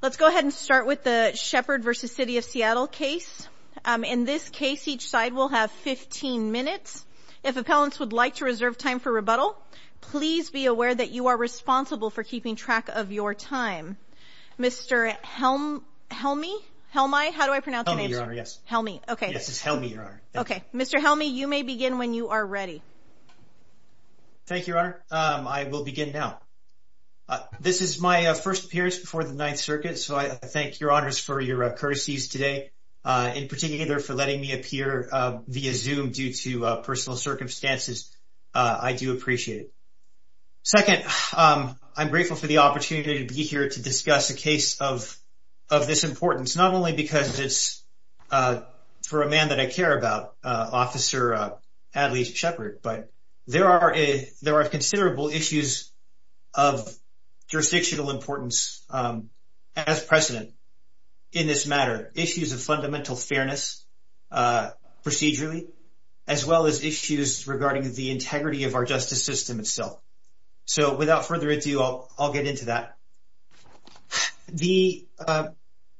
Let's go ahead and start with the Shepherd v. City of Seattle case. In this case, each side will have 15 minutes. If appellants would like to reserve time for rebuttal, please be aware that you are responsible for keeping track of your time. Mr. Helmy? Helmy? How do I pronounce your name? Helmy, Your Honor, yes. Helmy, okay. Yes, it's Helmy, Your Honor. Okay. Mr. Helmy, you may begin when you are ready. Thank you, Your Honor. I will begin now. This is my first appearance before the Ninth Circuit, so I thank Your Honors for your courtesies today, in particular for letting me appear via Zoom due to personal circumstances. I do appreciate it. Second, I'm grateful for the opportunity to be here to discuss a case of this importance, not only because it's for a man that I care about, Officer Adley Shepherd, but there are considerable issues of jurisdictional importance as precedent in this matter, issues of fundamental fairness procedurally, as well as issues regarding the integrity of our justice system itself. So without further ado, I'll get into that.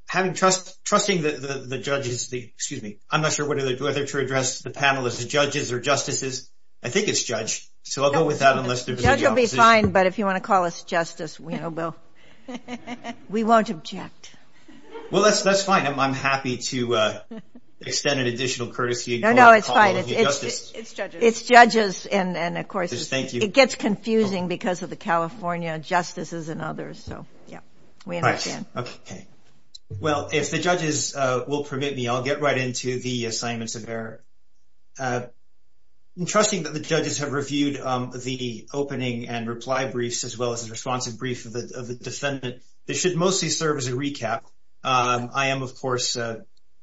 Having trust, trusting the judges, excuse me, I'm not sure whether to address the panel as judges or justices. I think it's judge, so I'll go with that. Judge will be fine, but if you want to call us justice, we won't object. Well, that's fine. I'm happy to extend an additional courtesy. No, no, it's fine. It's judges. It's judges, and of course, it gets confusing because of the California justices and others. So, yeah, we understand. Well, if the judges will permit me, I'll get right into the assignments of error. It's interesting that the judges have reviewed the opening and reply briefs as well as the responsive brief of the defendant. This should mostly serve as a recap. I am, of course,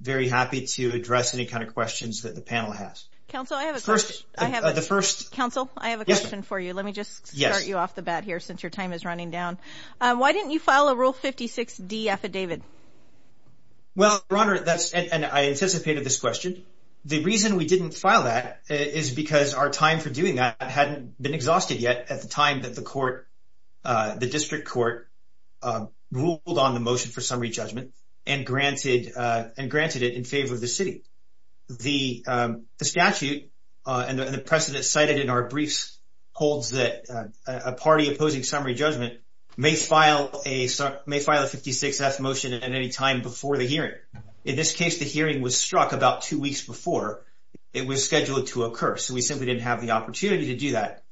very happy to address any kind of questions that the panel has. Counsel, I have a question. Counsel, I have a question for you. Let me just start you off the bat here since your time is running down. Why didn't you file a Rule 56D affidavit? Well, Your Honor, and I anticipated this question. The reason we didn't file that is because our time for doing that hadn't been exhausted yet at the time that the district court ruled on the motion for summary judgment and granted it in favor of the city. The statute and the precedent cited in our briefs holds that a party opposing summary judgment may file a 56F motion at any time before the hearing. In this case, the hearing was struck about two weeks before it was scheduled to occur, so we simply didn't have the opportunity to do that.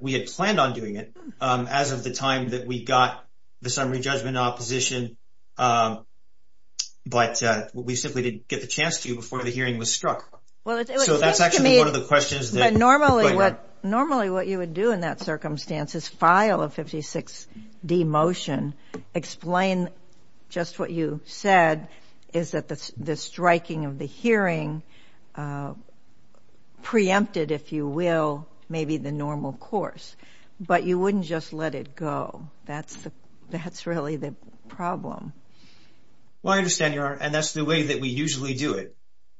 We had planned on doing it as of the time that we got the summary judgment opposition, but we simply didn't get the chance to before the hearing was struck. So that's actually one of the questions. Normally what you would do in that circumstance is file a 56D motion, explain just what you said is that the striking of the hearing preempted, if you will, maybe the normal course, but you wouldn't just let it go. That's really the problem. Well, I understand, Your Honor, and that's the way that we usually do it.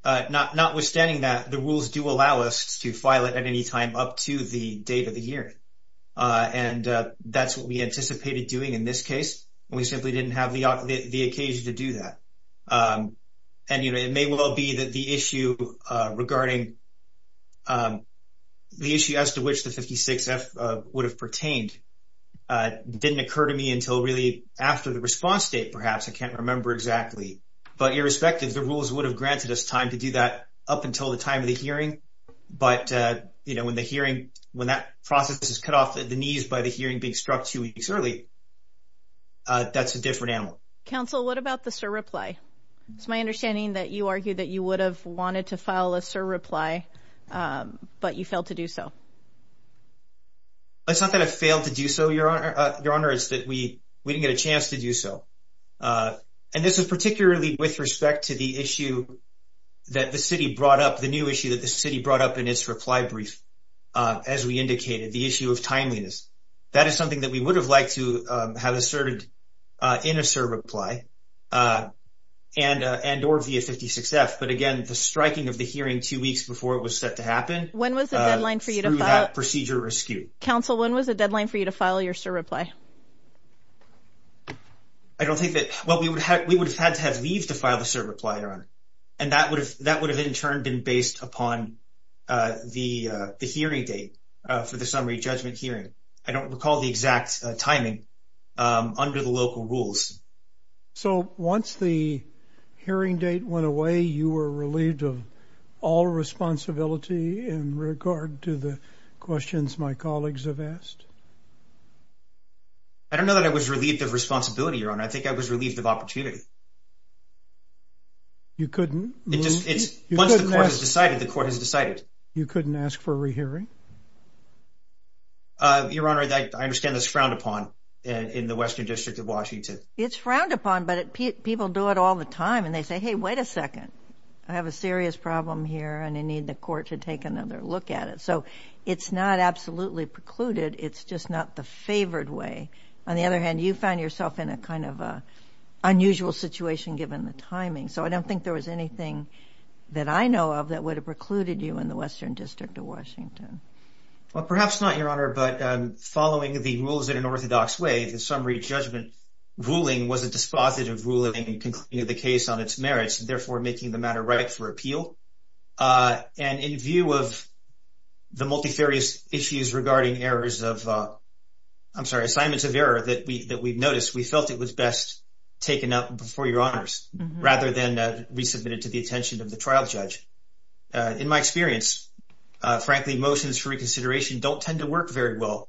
Notwithstanding that, the rules do allow us to file it at any time up to the date of the hearing, and that's what we anticipated doing in this case, and we simply didn't have the occasion to do that. And it may well be that the issue as to which the 56F would have pertained didn't occur to me until really after the response date, perhaps. I can't remember exactly. But irrespective, the rules would have granted us time to do that up until the time of the hearing, but when that process is cut off at the knees by the hearing being struck two weeks early, that's a different animal. Counsel, what about the surreply? It's my understanding that you argued that you would have wanted to file a surreply, but you failed to do so. It's not that I failed to do so, Your Honor. It's that we didn't get a chance to do so. And this is particularly with respect to the issue that the city brought up, the new issue that the city brought up in its reply brief, as we indicated, the issue of timeliness. That is something that we would have liked to have asserted in a surreply and or via 56F. But, again, the striking of the hearing two weeks before it was set to happen. When was the deadline for you to file? Through that procedure rescue. Counsel, when was the deadline for you to file your surreply? I don't think that we would have had to have leave to file the surreply, Your Honor. And that would have in turn been based upon the hearing date for the summary judgment hearing. I don't recall the exact timing under the local rules. So once the hearing date went away, you were relieved of all responsibility in regard to the questions my colleagues have asked? I don't know that I was relieved of responsibility, Your Honor. I think I was relieved of opportunity. You couldn't? Once the court has decided, the court has decided. You couldn't ask for a rehearing? Your Honor, I understand that's frowned upon in the Western District of Washington. It's frowned upon, but people do it all the time, and they say, hey, wait a second. I have a serious problem here, and I need the court to take another look at it. So it's not absolutely precluded. It's just not the favored way. On the other hand, you found yourself in a kind of unusual situation given the timing. So I don't think there was anything that I know of that would have precluded you in the Western District of Washington. Well, perhaps not, Your Honor, but following the rules in an orthodox way, the summary judgment ruling was a dispositive ruling concluding the case on its merits, and therefore making the matter right for appeal. And in view of the multifarious issues regarding errors of, I'm sorry, assignments of error that we've noticed, we felt it was best taken up before Your Honors rather than resubmitted to the attention of the trial judge. In my experience, frankly, motions for reconsideration don't tend to work very well,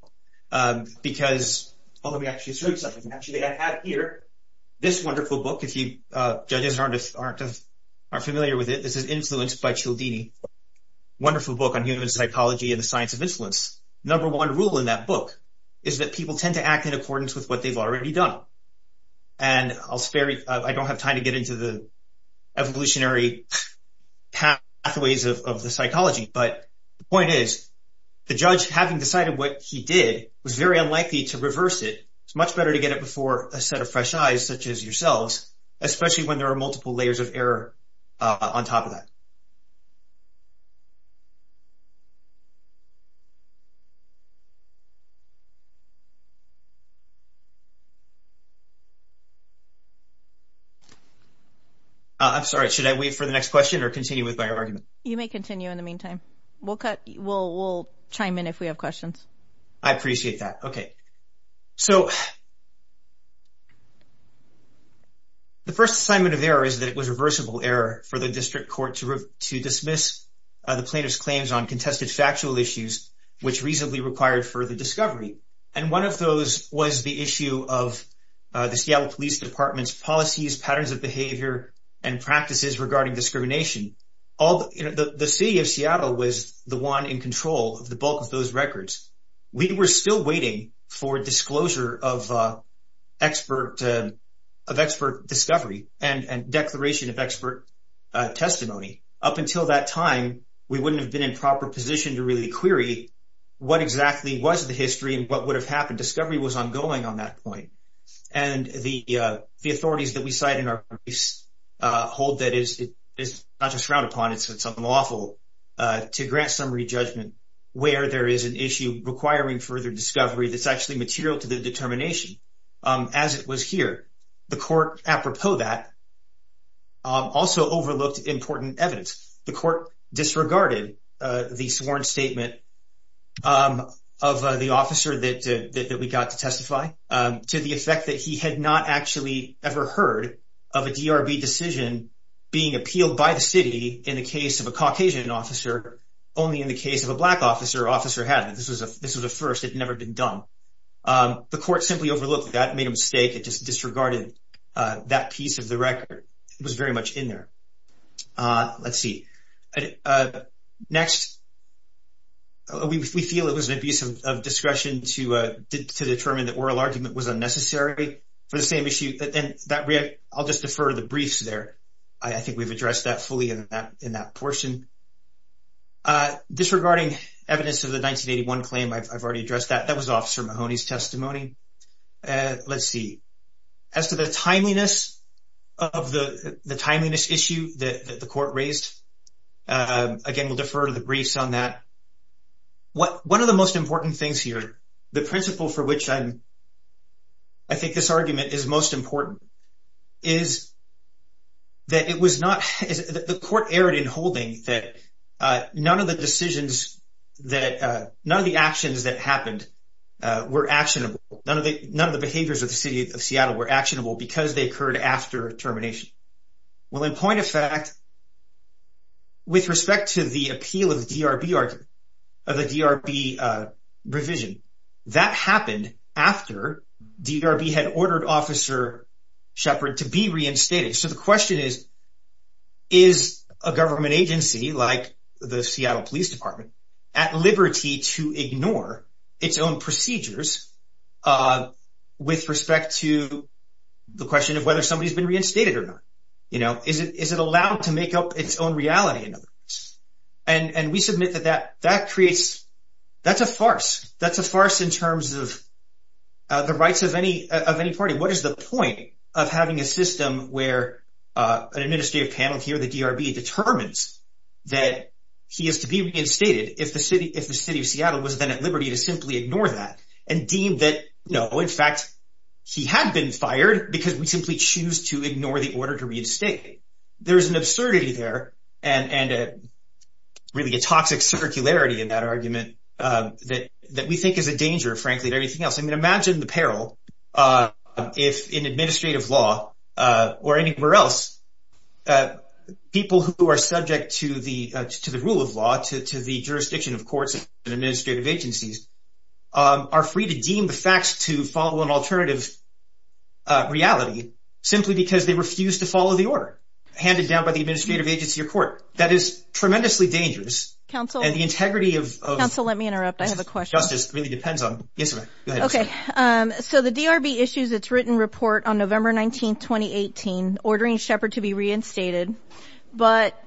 because although we actually assert something, actually I have here this wonderful book. Judges aren't familiar with it. This is Influenced by Cialdini, a wonderful book on human psychology and the science of influence. The number one rule in that book is that people tend to act in accordance with what they've already done. And I don't have time to get into the evolutionary pathways of the psychology, but the point is the judge, having decided what he did, was very unlikely to reverse it. It's much better to get it before a set of fresh eyes such as yourselves, especially when there are multiple layers of error on top of that. I'm sorry, should I wait for the next question or continue with my argument? You may continue in the meantime. We'll chime in if we have questions. I appreciate that. Okay, so the first assignment of error is that it was reversible error for the district court to dismiss the plaintiff's claims on contested factual issues, which reasonably required further discovery. And one of those was the issue of the Seattle Police Department's policies, patterns of behavior, and practices regarding discrimination. The city of Seattle was the one in control of the bulk of those records. We were still waiting for disclosure of expert discovery and declaration of expert testimony. Up until that time, we wouldn't have been in proper position to really query what exactly was the history and what would have happened. Discovery was ongoing on that point. And the authorities that we cite in our briefs hold that it's not just frowned upon, it's unlawful to grant summary judgment where there is an issue requiring further discovery that's actually material to the determination as it was here. The court, apropos that, also overlooked important evidence. The court disregarded the sworn statement of the officer that we got to testify to the effect that he had not actually ever heard of a DRB decision being appealed by the city in the case of a Caucasian officer, only in the case of a black officer, officer had. This was a first. It had never been done. The court simply overlooked that and made a mistake. It just disregarded that piece of the record. It was very much in there. Let's see. Next. We feel it was an abuse of discretion to determine that oral argument was unnecessary for the same issue. I'll just defer to the briefs there. I think we've addressed that fully in that portion. Disregarding evidence of the 1981 claim, I've already addressed that. That was Officer Mahoney's testimony. Let's see. As to the timeliness of the timeliness issue that the court raised, again, we'll defer to the briefs on that. One of the most important things here, the principle for which I think this argument is most important, is that the court erred in holding that none of the actions that happened were actionable. None of the behaviors of the City of Seattle were actionable because they occurred after termination. Well, in point of fact, with respect to the appeal of the DRB provision, that happened after DRB had ordered Officer Shepard to be reinstated. So the question is, is a government agency like the Seattle Police Department at liberty to ignore its own procedures with respect to the question of whether somebody's been reinstated or not? Is it allowed to make up its own reality in other words? And we submit that that creates – that's a farce. That's a farce in terms of the rights of any party. What is the point of having a system where an administrative panel here, the DRB, determines that he is to be reinstated if the City of Seattle was then at liberty to simply ignore that and deem that, no, in fact, he had been fired because we simply choose to ignore the order to reinstate. There's an absurdity there and really a toxic circularity in that argument that we think is a danger, frankly, to everything else. I mean, imagine the peril if in administrative law or anywhere else people who are subject to the rule of law, to the jurisdiction of courts and administrative agencies, are free to deem the facts to follow an alternative reality simply because they refuse to follow the order handed down by the administrative agency or court. That is tremendously dangerous. Counsel, let me interrupt. I have a question. Justice really depends on – yes, ma'am. Go ahead. Okay. So the DRB issues its written report on November 19, 2018, ordering Shepard to be reinstated. But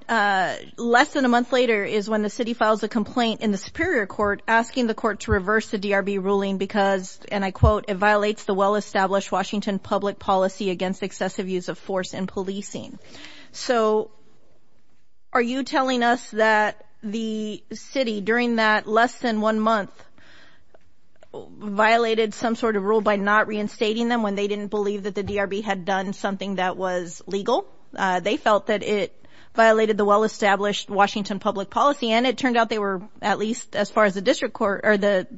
less than a month later is when the city files a complaint in the Superior Court asking the court to reverse the DRB ruling because, and I quote, it violates the well-established Washington public policy against excessive use of force in policing. So are you telling us that the city during that less than one month violated some sort of rule by not reinstating them when they didn't believe that the DRB had done something that was legal? They felt that it violated the well-established Washington public policy, and it turned out they were, at least as far as the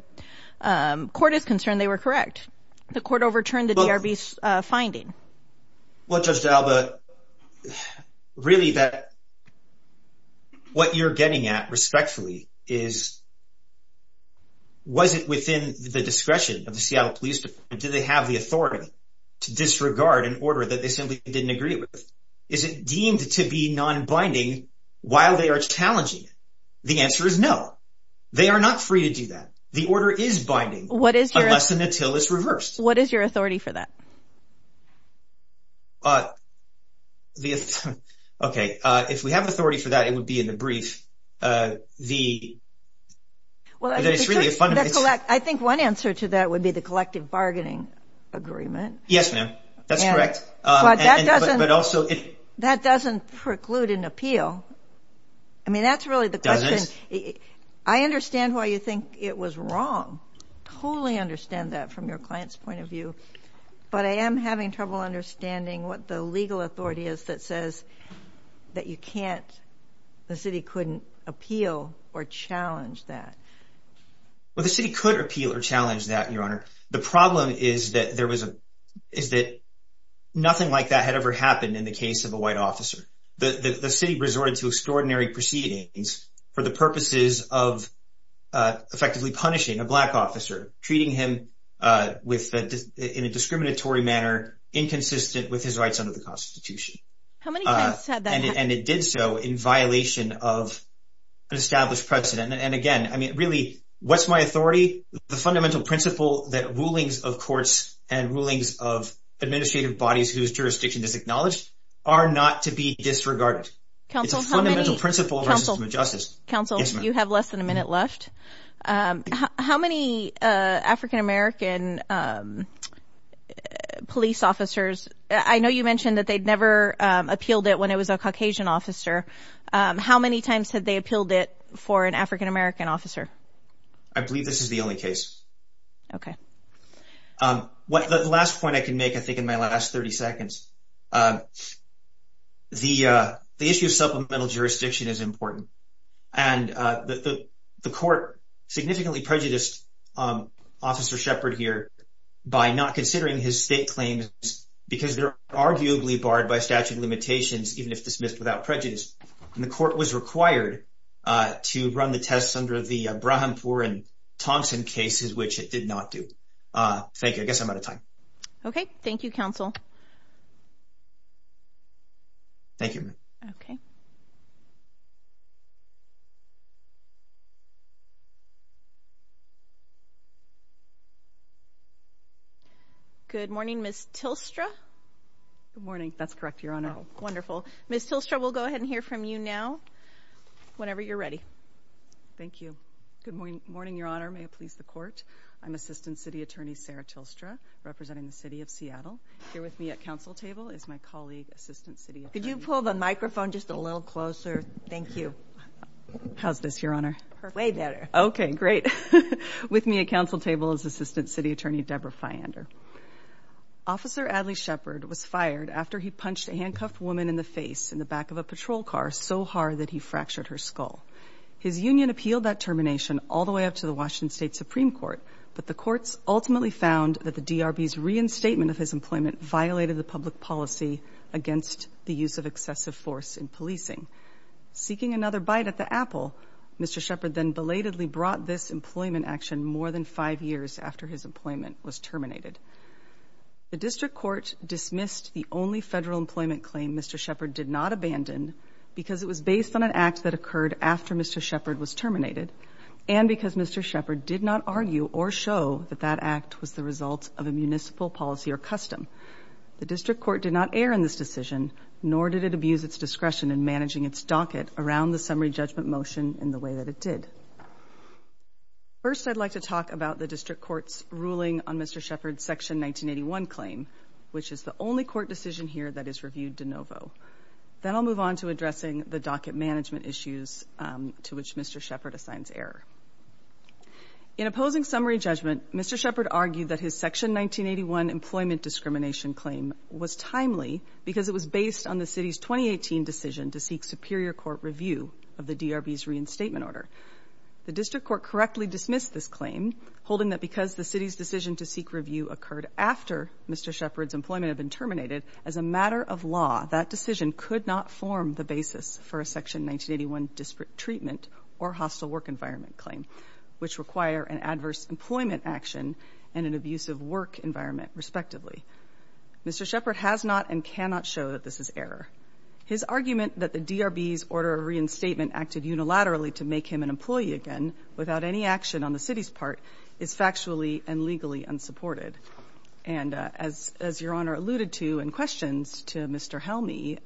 court is concerned, they were correct. The court overturned the DRB's finding. Well, Judge D'Alba, really what you're getting at respectfully is was it within the discretion of the Seattle Police Department? Did they have the authority to disregard an order that they simply didn't agree with? Is it deemed to be non-binding while they are challenging it? The answer is no. They are not free to do that. The order is binding. What is your – Unless an attil is reversed. What is your authority for that? Okay. If we have authority for that, it would be in the brief. I think one answer to that would be the collective bargaining agreement. Yes, ma'am. That's correct. But that doesn't preclude an appeal. I mean, that's really the question. I understand why you think it was wrong. Totally understand that from your client's point of view. But I am having trouble understanding what the legal authority is that says that you can't – the city couldn't appeal or challenge that. Well, the city could appeal or challenge that, Your Honor. The problem is that there was a – is that nothing like that had ever happened in the case of a white officer. The city resorted to extraordinary proceedings for the purposes of effectively punishing a black officer, treating him in a discriminatory manner inconsistent with his rights under the Constitution. How many times has that happened? And it did so in violation of an established precedent. And again, I mean, really, what's my authority? The fundamental principle that rulings of courts and rulings of administrative bodies whose jurisdiction is acknowledged are not to be disregarded. Counsel, how many – It's a fundamental principle of our system of justice. Counsel, you have less than a minute left. How many African-American police officers – I know you mentioned that they'd never appealed it when it was a Caucasian officer. How many times had they appealed it for an African-American officer? I believe this is the only case. Okay. The last point I can make, I think, in my last 30 seconds, the issue of supplemental jurisdiction is important. And the court significantly prejudiced Officer Shepard here by not considering his state claims because they're arguably barred by statute of limitations even if dismissed without prejudice. And the court was required to run the tests under the Brahampour and Thompson cases, which it did not do. Thank you. I guess I'm out of time. Okay. Thank you, Counsel. Thank you. Okay. Good morning, Ms. Tilstra. Good morning. That's correct, Your Honor. Wonderful. Ms. Tilstra, we'll go ahead and hear from you now whenever you're ready. Thank you. Good morning, Your Honor. May it please the Court. I'm Assistant City Attorney Sarah Tilstra representing the City of Seattle. Here with me at counsel table is my colleague, Assistant City Attorney – Could you pull the microphone just a little closer? Thank you. How's this, Your Honor? Perfect. Way better. Okay. Great. With me at counsel table is Assistant City Attorney Deborah Fyander. Officer Adly Shepard was fired after he punched a handcuffed woman in the face in the back of a patrol car so hard that he fractured her skull. His union appealed that termination all the way up to the Washington State Supreme Court, but the courts ultimately found that the DRB's reinstatement of his employment violated the public policy against the use of excessive force in policing. Seeking another bite at the apple, Mr. Shepard then belatedly brought this employment action more than five years after his employment was terminated. The district court dismissed the only federal employment claim Mr. Shepard did not abandon because it was based on an act that occurred after Mr. Shepard was terminated and because Mr. Shepard did not argue or show that that act was the result of a municipal policy or custom. The district court did not err in this decision, nor did it abuse its discretion in managing its docket around the summary judgment motion in the way that it did. First, I'd like to talk about the district court's ruling on Mr. Shepard's Section 1981 claim, which is the only court decision here that is reviewed de novo. Then I'll move on to addressing the docket management issues to which Mr. Shepard assigns error. In opposing summary judgment, Mr. Shepard argued that his Section 1981 employment discrimination claim was timely because it was based on the city's 2018 decision to seek superior court review of the DRB's reinstatement order. The district court correctly dismissed this claim, holding that because the city's decision to seek review occurred after Mr. Shepard's employment had been terminated, as a matter of law, that decision could not form the basis for a Section 1981 disparate treatment or hostile work environment claim, which require an adverse employment action and an abusive work environment, respectively. Mr. Shepard has not and cannot show that this is error. His argument that the DRB's order of reinstatement acted unilaterally to make him an employee again without any action on the city's part is factually and legally unsupported. As Your Honor alluded to in questions to Mr. Helmy,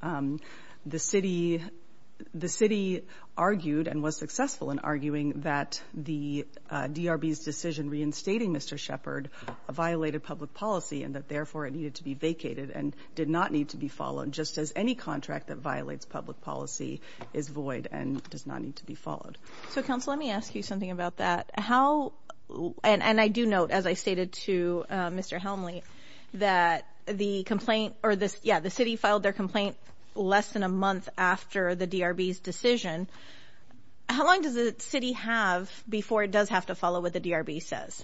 the city argued and was successful in arguing that the DRB's decision reinstating Mr. Shepard violated public policy and that, therefore, it needed to be vacated and did not need to be followed, just as any contract that violates public policy is void and does not need to be followed. So, counsel, let me ask you something about that. And I do note, as I stated to Mr. Helmy, that the city filed their complaint less than a month after the DRB's decision. How long does the city have before it does have to follow what the DRB says?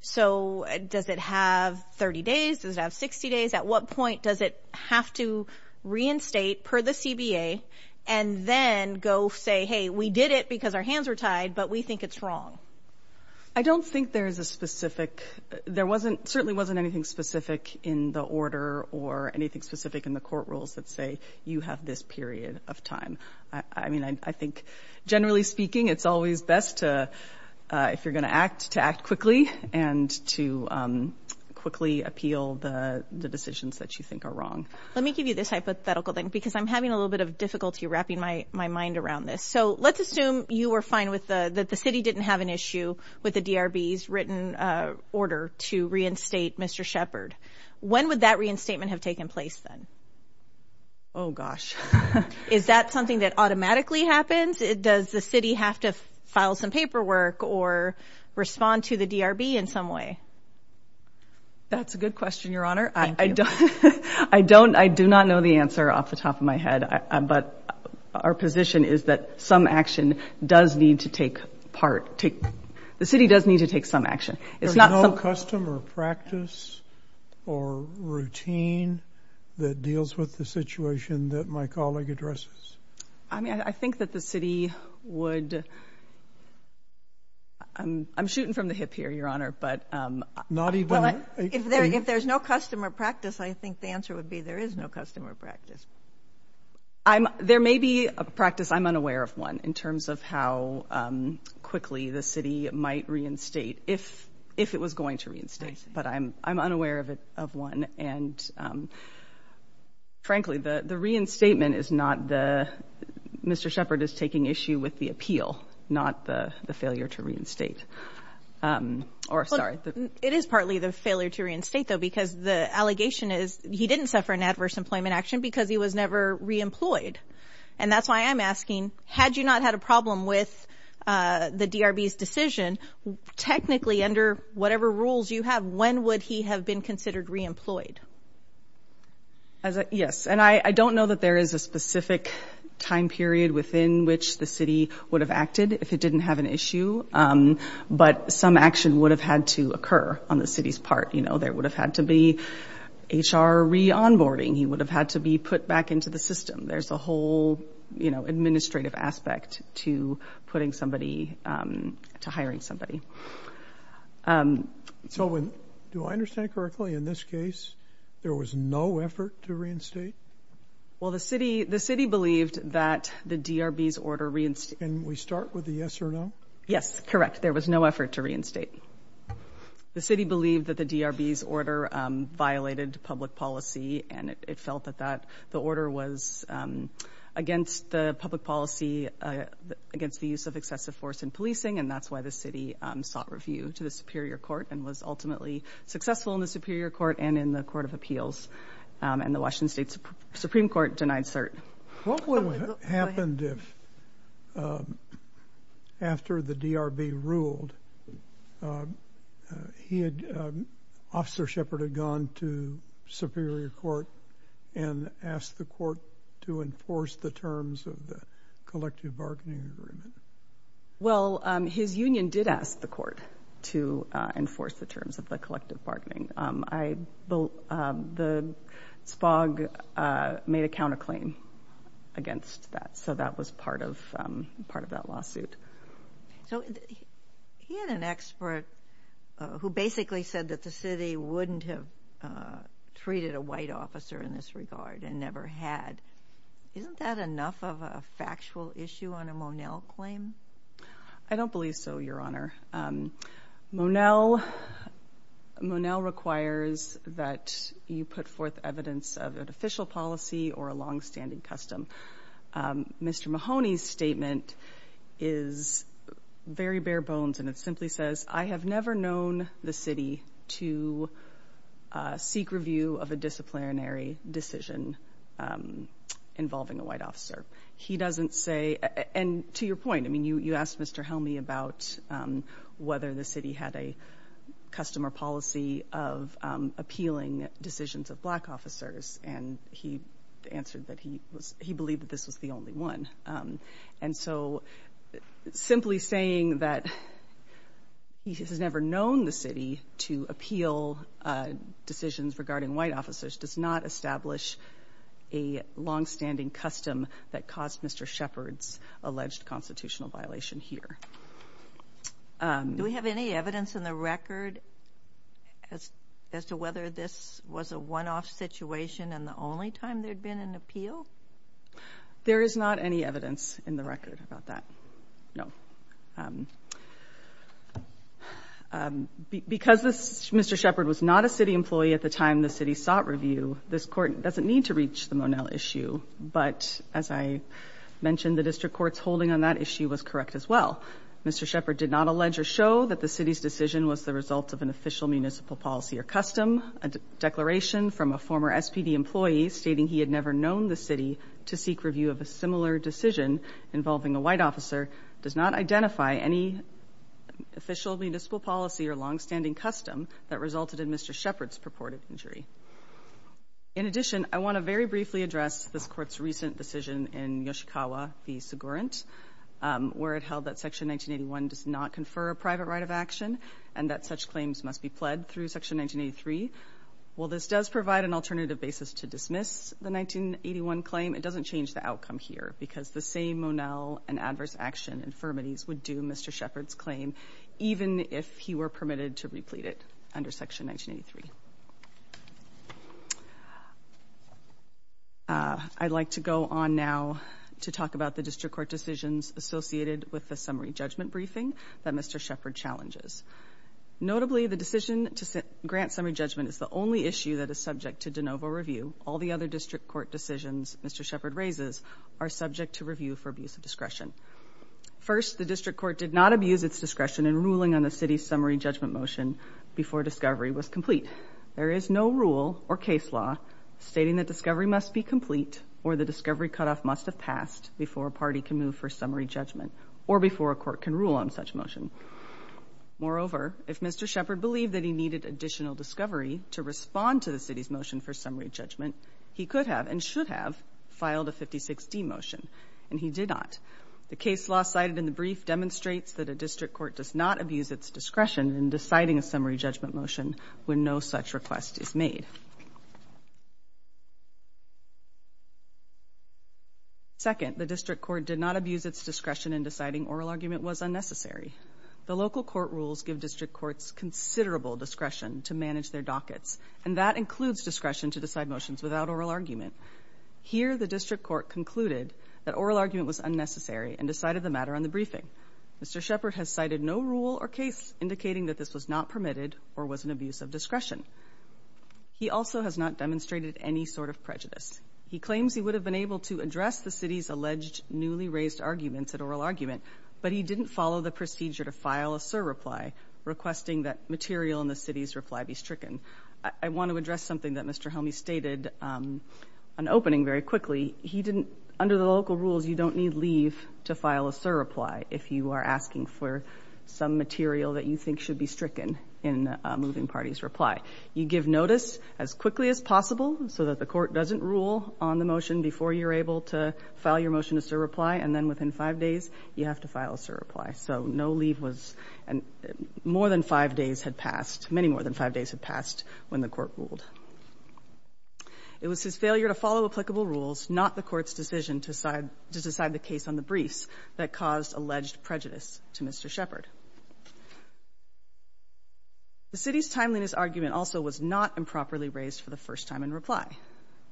So does it have 30 days? Does it have 60 days? At what point does it have to reinstate per the CBA and then go say, hey, we did it because our hands are tied, but we think it's wrong? I don't think there is a specific – there certainly wasn't anything specific in the order or anything specific in the court rules that say you have this period of time. I mean, I think, generally speaking, it's always best to, if you're going to act, to act quickly and to quickly appeal the decisions that you think are wrong. Let me give you this hypothetical thing because I'm having a little bit of difficulty wrapping my mind around this. So let's assume you were fine with the – that the city didn't have an issue with the DRB's written order to reinstate Mr. Shepard. When would that reinstatement have taken place then? Oh, gosh. Is that something that automatically happens? Does the city have to file some paperwork or respond to the DRB in some way? That's a good question, Your Honor. I do not know the answer off the top of my head, but our position is that some action does need to take part. The city does need to take some action. There's no custom or practice or routine that deals with the situation that my colleague addresses. I mean, I think that the city would – I'm shooting from the hip here, Your Honor, but – Not even – If there's no custom or practice, I think the answer would be there is no custom or practice. There may be a practice, I'm unaware of one, in terms of how quickly the city might reinstate if it was going to reinstate, but I'm unaware of one. And, frankly, the reinstatement is not the – Mr. Sheppard is taking issue with the appeal, not the failure to reinstate. Or, sorry. It is partly the failure to reinstate, though, because the allegation is he didn't suffer an adverse employment action because he was never reemployed. And that's why I'm asking, had you not had a problem with the DRB's decision, technically, under whatever rules you have, when would he have been considered reemployed? Yes. And I don't know that there is a specific time period within which the city would have acted if it didn't have an issue, but some action would have had to occur on the city's part. You know, there would have had to be HR re-onboarding. He would have had to be put back into the system. There's a whole, you know, administrative aspect to putting somebody – to hiring somebody. So do I understand correctly, in this case, there was no effort to reinstate? Well, the city believed that the DRB's order – Can we start with the yes or no? Yes, correct. There was no effort to reinstate. The city believed that the DRB's order violated public policy, and it felt that the order was against the public policy, against the use of excessive force in policing, and that's why the city sought review to the Superior Court and was ultimately successful in the Superior Court and in the Court of Appeals. And the Washington State Supreme Court denied cert. What would have happened if, after the DRB ruled, he had – Officer Shepard had gone to Superior Court and asked the court to enforce the terms of the collective bargaining agreement? Well, his union did ask the court to enforce the terms of the collective bargaining. The SPOG made a counterclaim against that, so that was part of that lawsuit. So he had an expert who basically said that the city wouldn't have treated a white officer in this regard and never had. Isn't that enough of a factual issue on a Monell claim? I don't believe so, Your Honor. Monell requires that you put forth evidence of an official policy or a longstanding custom. Mr. Mahoney's statement is very bare bones, and it simply says, I have never known the city to seek review of a disciplinary decision involving a white officer. He doesn't say – and to your point, I mean, you asked Mr. Helmy about whether the city had a custom or policy of appealing decisions of black officers, and he answered that he believed that this was the only one. And so simply saying that he has never known the city to appeal decisions regarding white officers does not establish a longstanding custom that caused Mr. Shepard's alleged constitutional violation here. Do we have any evidence in the record as to whether this was a one-off situation and the only time there had been an appeal? There is not any evidence in the record about that, no. Because Mr. Shepard was not a city employee at the time the city sought review, this Court doesn't need to reach the Monell issue. But as I mentioned, the district court's holding on that issue was correct as well. Mr. Shepard did not allege or show that the city's decision was the result of an official municipal policy or custom. A declaration from a former SPD employee stating he had never known the city to seek review of a similar decision involving a white officer does not identify any official municipal policy or longstanding custom that resulted in Mr. Shepard's purported injury. In addition, I want to very briefly address this Court's recent decision in Yoshikawa v. Segurint, where it held that Section 1981 does not confer a private right of action and that such claims must be pled through Section 1983. While this does provide an alternative basis to dismiss the 1981 claim, it doesn't change the outcome here because the same Monell and adverse action infirmities would do Mr. Shepard's claim even if he were permitted to replete it under Section 1983. I'd like to go on now to talk about the district court decisions associated with the summary judgment briefing that Mr. Shepard challenges. Notably, the decision to grant summary judgment is the only issue that is subject to de novo review. All the other district court decisions Mr. Shepard raises are subject to review for abuse of discretion. First, the district court did not abuse its discretion in ruling on the city's summary judgment motion before discovery was complete. There is no rule or case law stating that discovery must be complete or the discovery cutoff must have passed before a party can move for summary judgment or before a court can rule on such motion. Moreover, if Mr. Shepard believed that he needed additional discovery to respond to the city's motion for summary judgment, he could have and should have filed a 56D motion, and he did not. The case law cited in the brief demonstrates that a district court does not abuse its discretion in deciding a summary judgment motion when no such request is made. Second, the district court did not abuse its discretion in deciding oral argument was unnecessary. The local court rules give district courts considerable discretion to manage their dockets, and that includes discretion to decide motions without oral argument. Here, the district court concluded that oral argument was unnecessary and decided the matter on the briefing. Mr. Shepard has cited no rule or case indicating that this was not permitted or was an abuse of discretion. He also has not demonstrated any sort of prejudice. He claims he would have been able to address the city's alleged newly raised arguments at oral argument, but he didn't follow the procedure to file a surreply, requesting that material in the city's reply be stricken. I want to address something that Mr. Helme stated on opening very quickly. Under the local rules, you don't need leave to file a surreply if you are asking for some material that you think should be stricken in a moving party's reply. You give notice as quickly as possible so that the court doesn't rule on the motion before you're able to file your motion to surreply, and then within five days, you have to file a surreply. So no leave was and more than five days had passed, many more than five days had passed when the court ruled. It was his failure to follow applicable rules, not the court's decision to decide the case on the briefs, that caused alleged prejudice to Mr. Shepard. The city's timeliness argument also was not improperly raised for the first time in reply.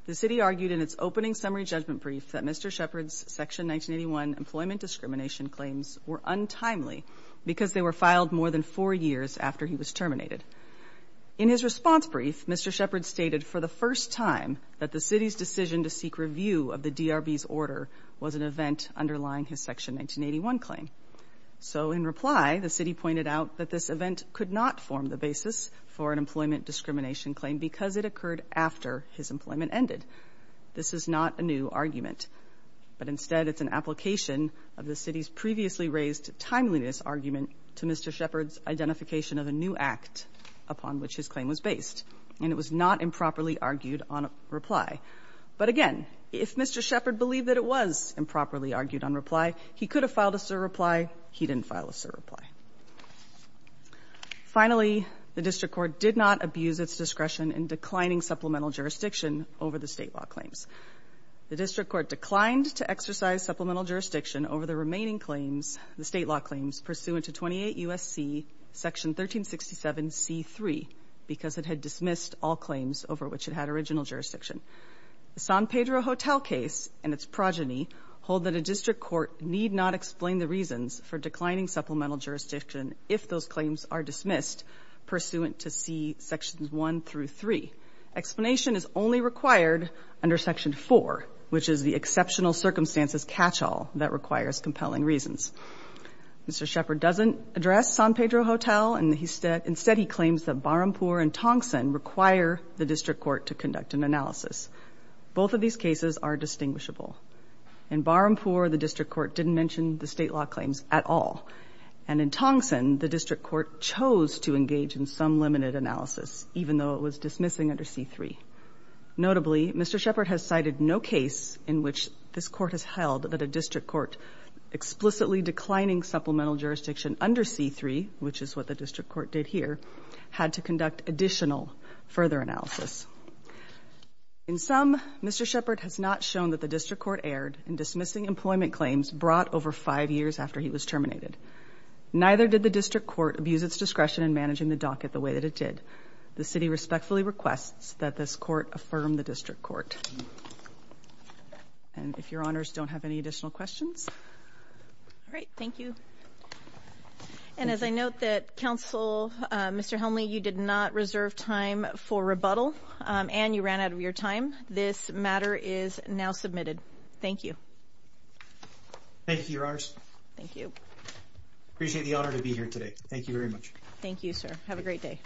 The city argued in its opening summary judgment brief that Mr. Shepard's Section 1981 employment discrimination claims were untimely because they were filed more than four years after he was terminated. In his response brief, Mr. Shepard stated for the first time that the city's decision to seek review of the DRB's order was an event underlying his Section 1981 claim. So in reply, the city pointed out that this event could not form the basis for an employment discrimination claim because it occurred after his employment ended. This is not a new argument, but instead it's an application of the city's previously raised timeliness argument to Mr. Shepard's identification of a new act upon which his claim was based. And it was not improperly argued on reply. But again, if Mr. Shepard believed that it was improperly argued on reply, he could have filed a surreply. He didn't file a surreply. Finally, the district court did not abuse its discretion in declining supplemental jurisdiction over the state law claims. The district court declined to exercise supplemental jurisdiction over the remaining claims, the state law claims, pursuant to 28 U.S.C. Section 1367 C.3 because it had dismissed all claims over which it had original jurisdiction. The San Pedro Hotel case and its progeny hold that a district court need not explain the reasons for declining supplemental jurisdiction if those claims are dismissed pursuant to C. Sections 1 through 3. Explanation is only required under Section 4, which is the exceptional circumstances catchall that requires compelling reasons. Mr. Shepard doesn't address San Pedro Hotel, and instead he claims that Barampur and Tongson require the district court to conduct an analysis. Both of these cases are distinguishable. In Barampur, the district court didn't mention the state law claims at all. And in Tongson, the district court chose to engage in some limited analysis, even though it was dismissing under C.3. Notably, Mr. Shepard has cited no case in which this court has held that a district court explicitly declining supplemental jurisdiction under C.3, which is what the district court did here, had to conduct additional further analysis. In sum, Mr. Shepard has not shown that the district court erred in dismissing employment claims brought over five years after he was terminated. Neither did the district court abuse its discretion in managing the docket the way that it did. The city respectfully requests that this court affirm the district court. And if your honors don't have any additional questions? All right. Thank you. And as I note that, counsel, Mr. Helmley, you did not reserve time for rebuttal and you ran out of your time. This matter is now submitted. Thank you. Thank you, your honors. Thank you. I appreciate the honor to be here today. Thank you very much. Thank you, sir. Have a great day.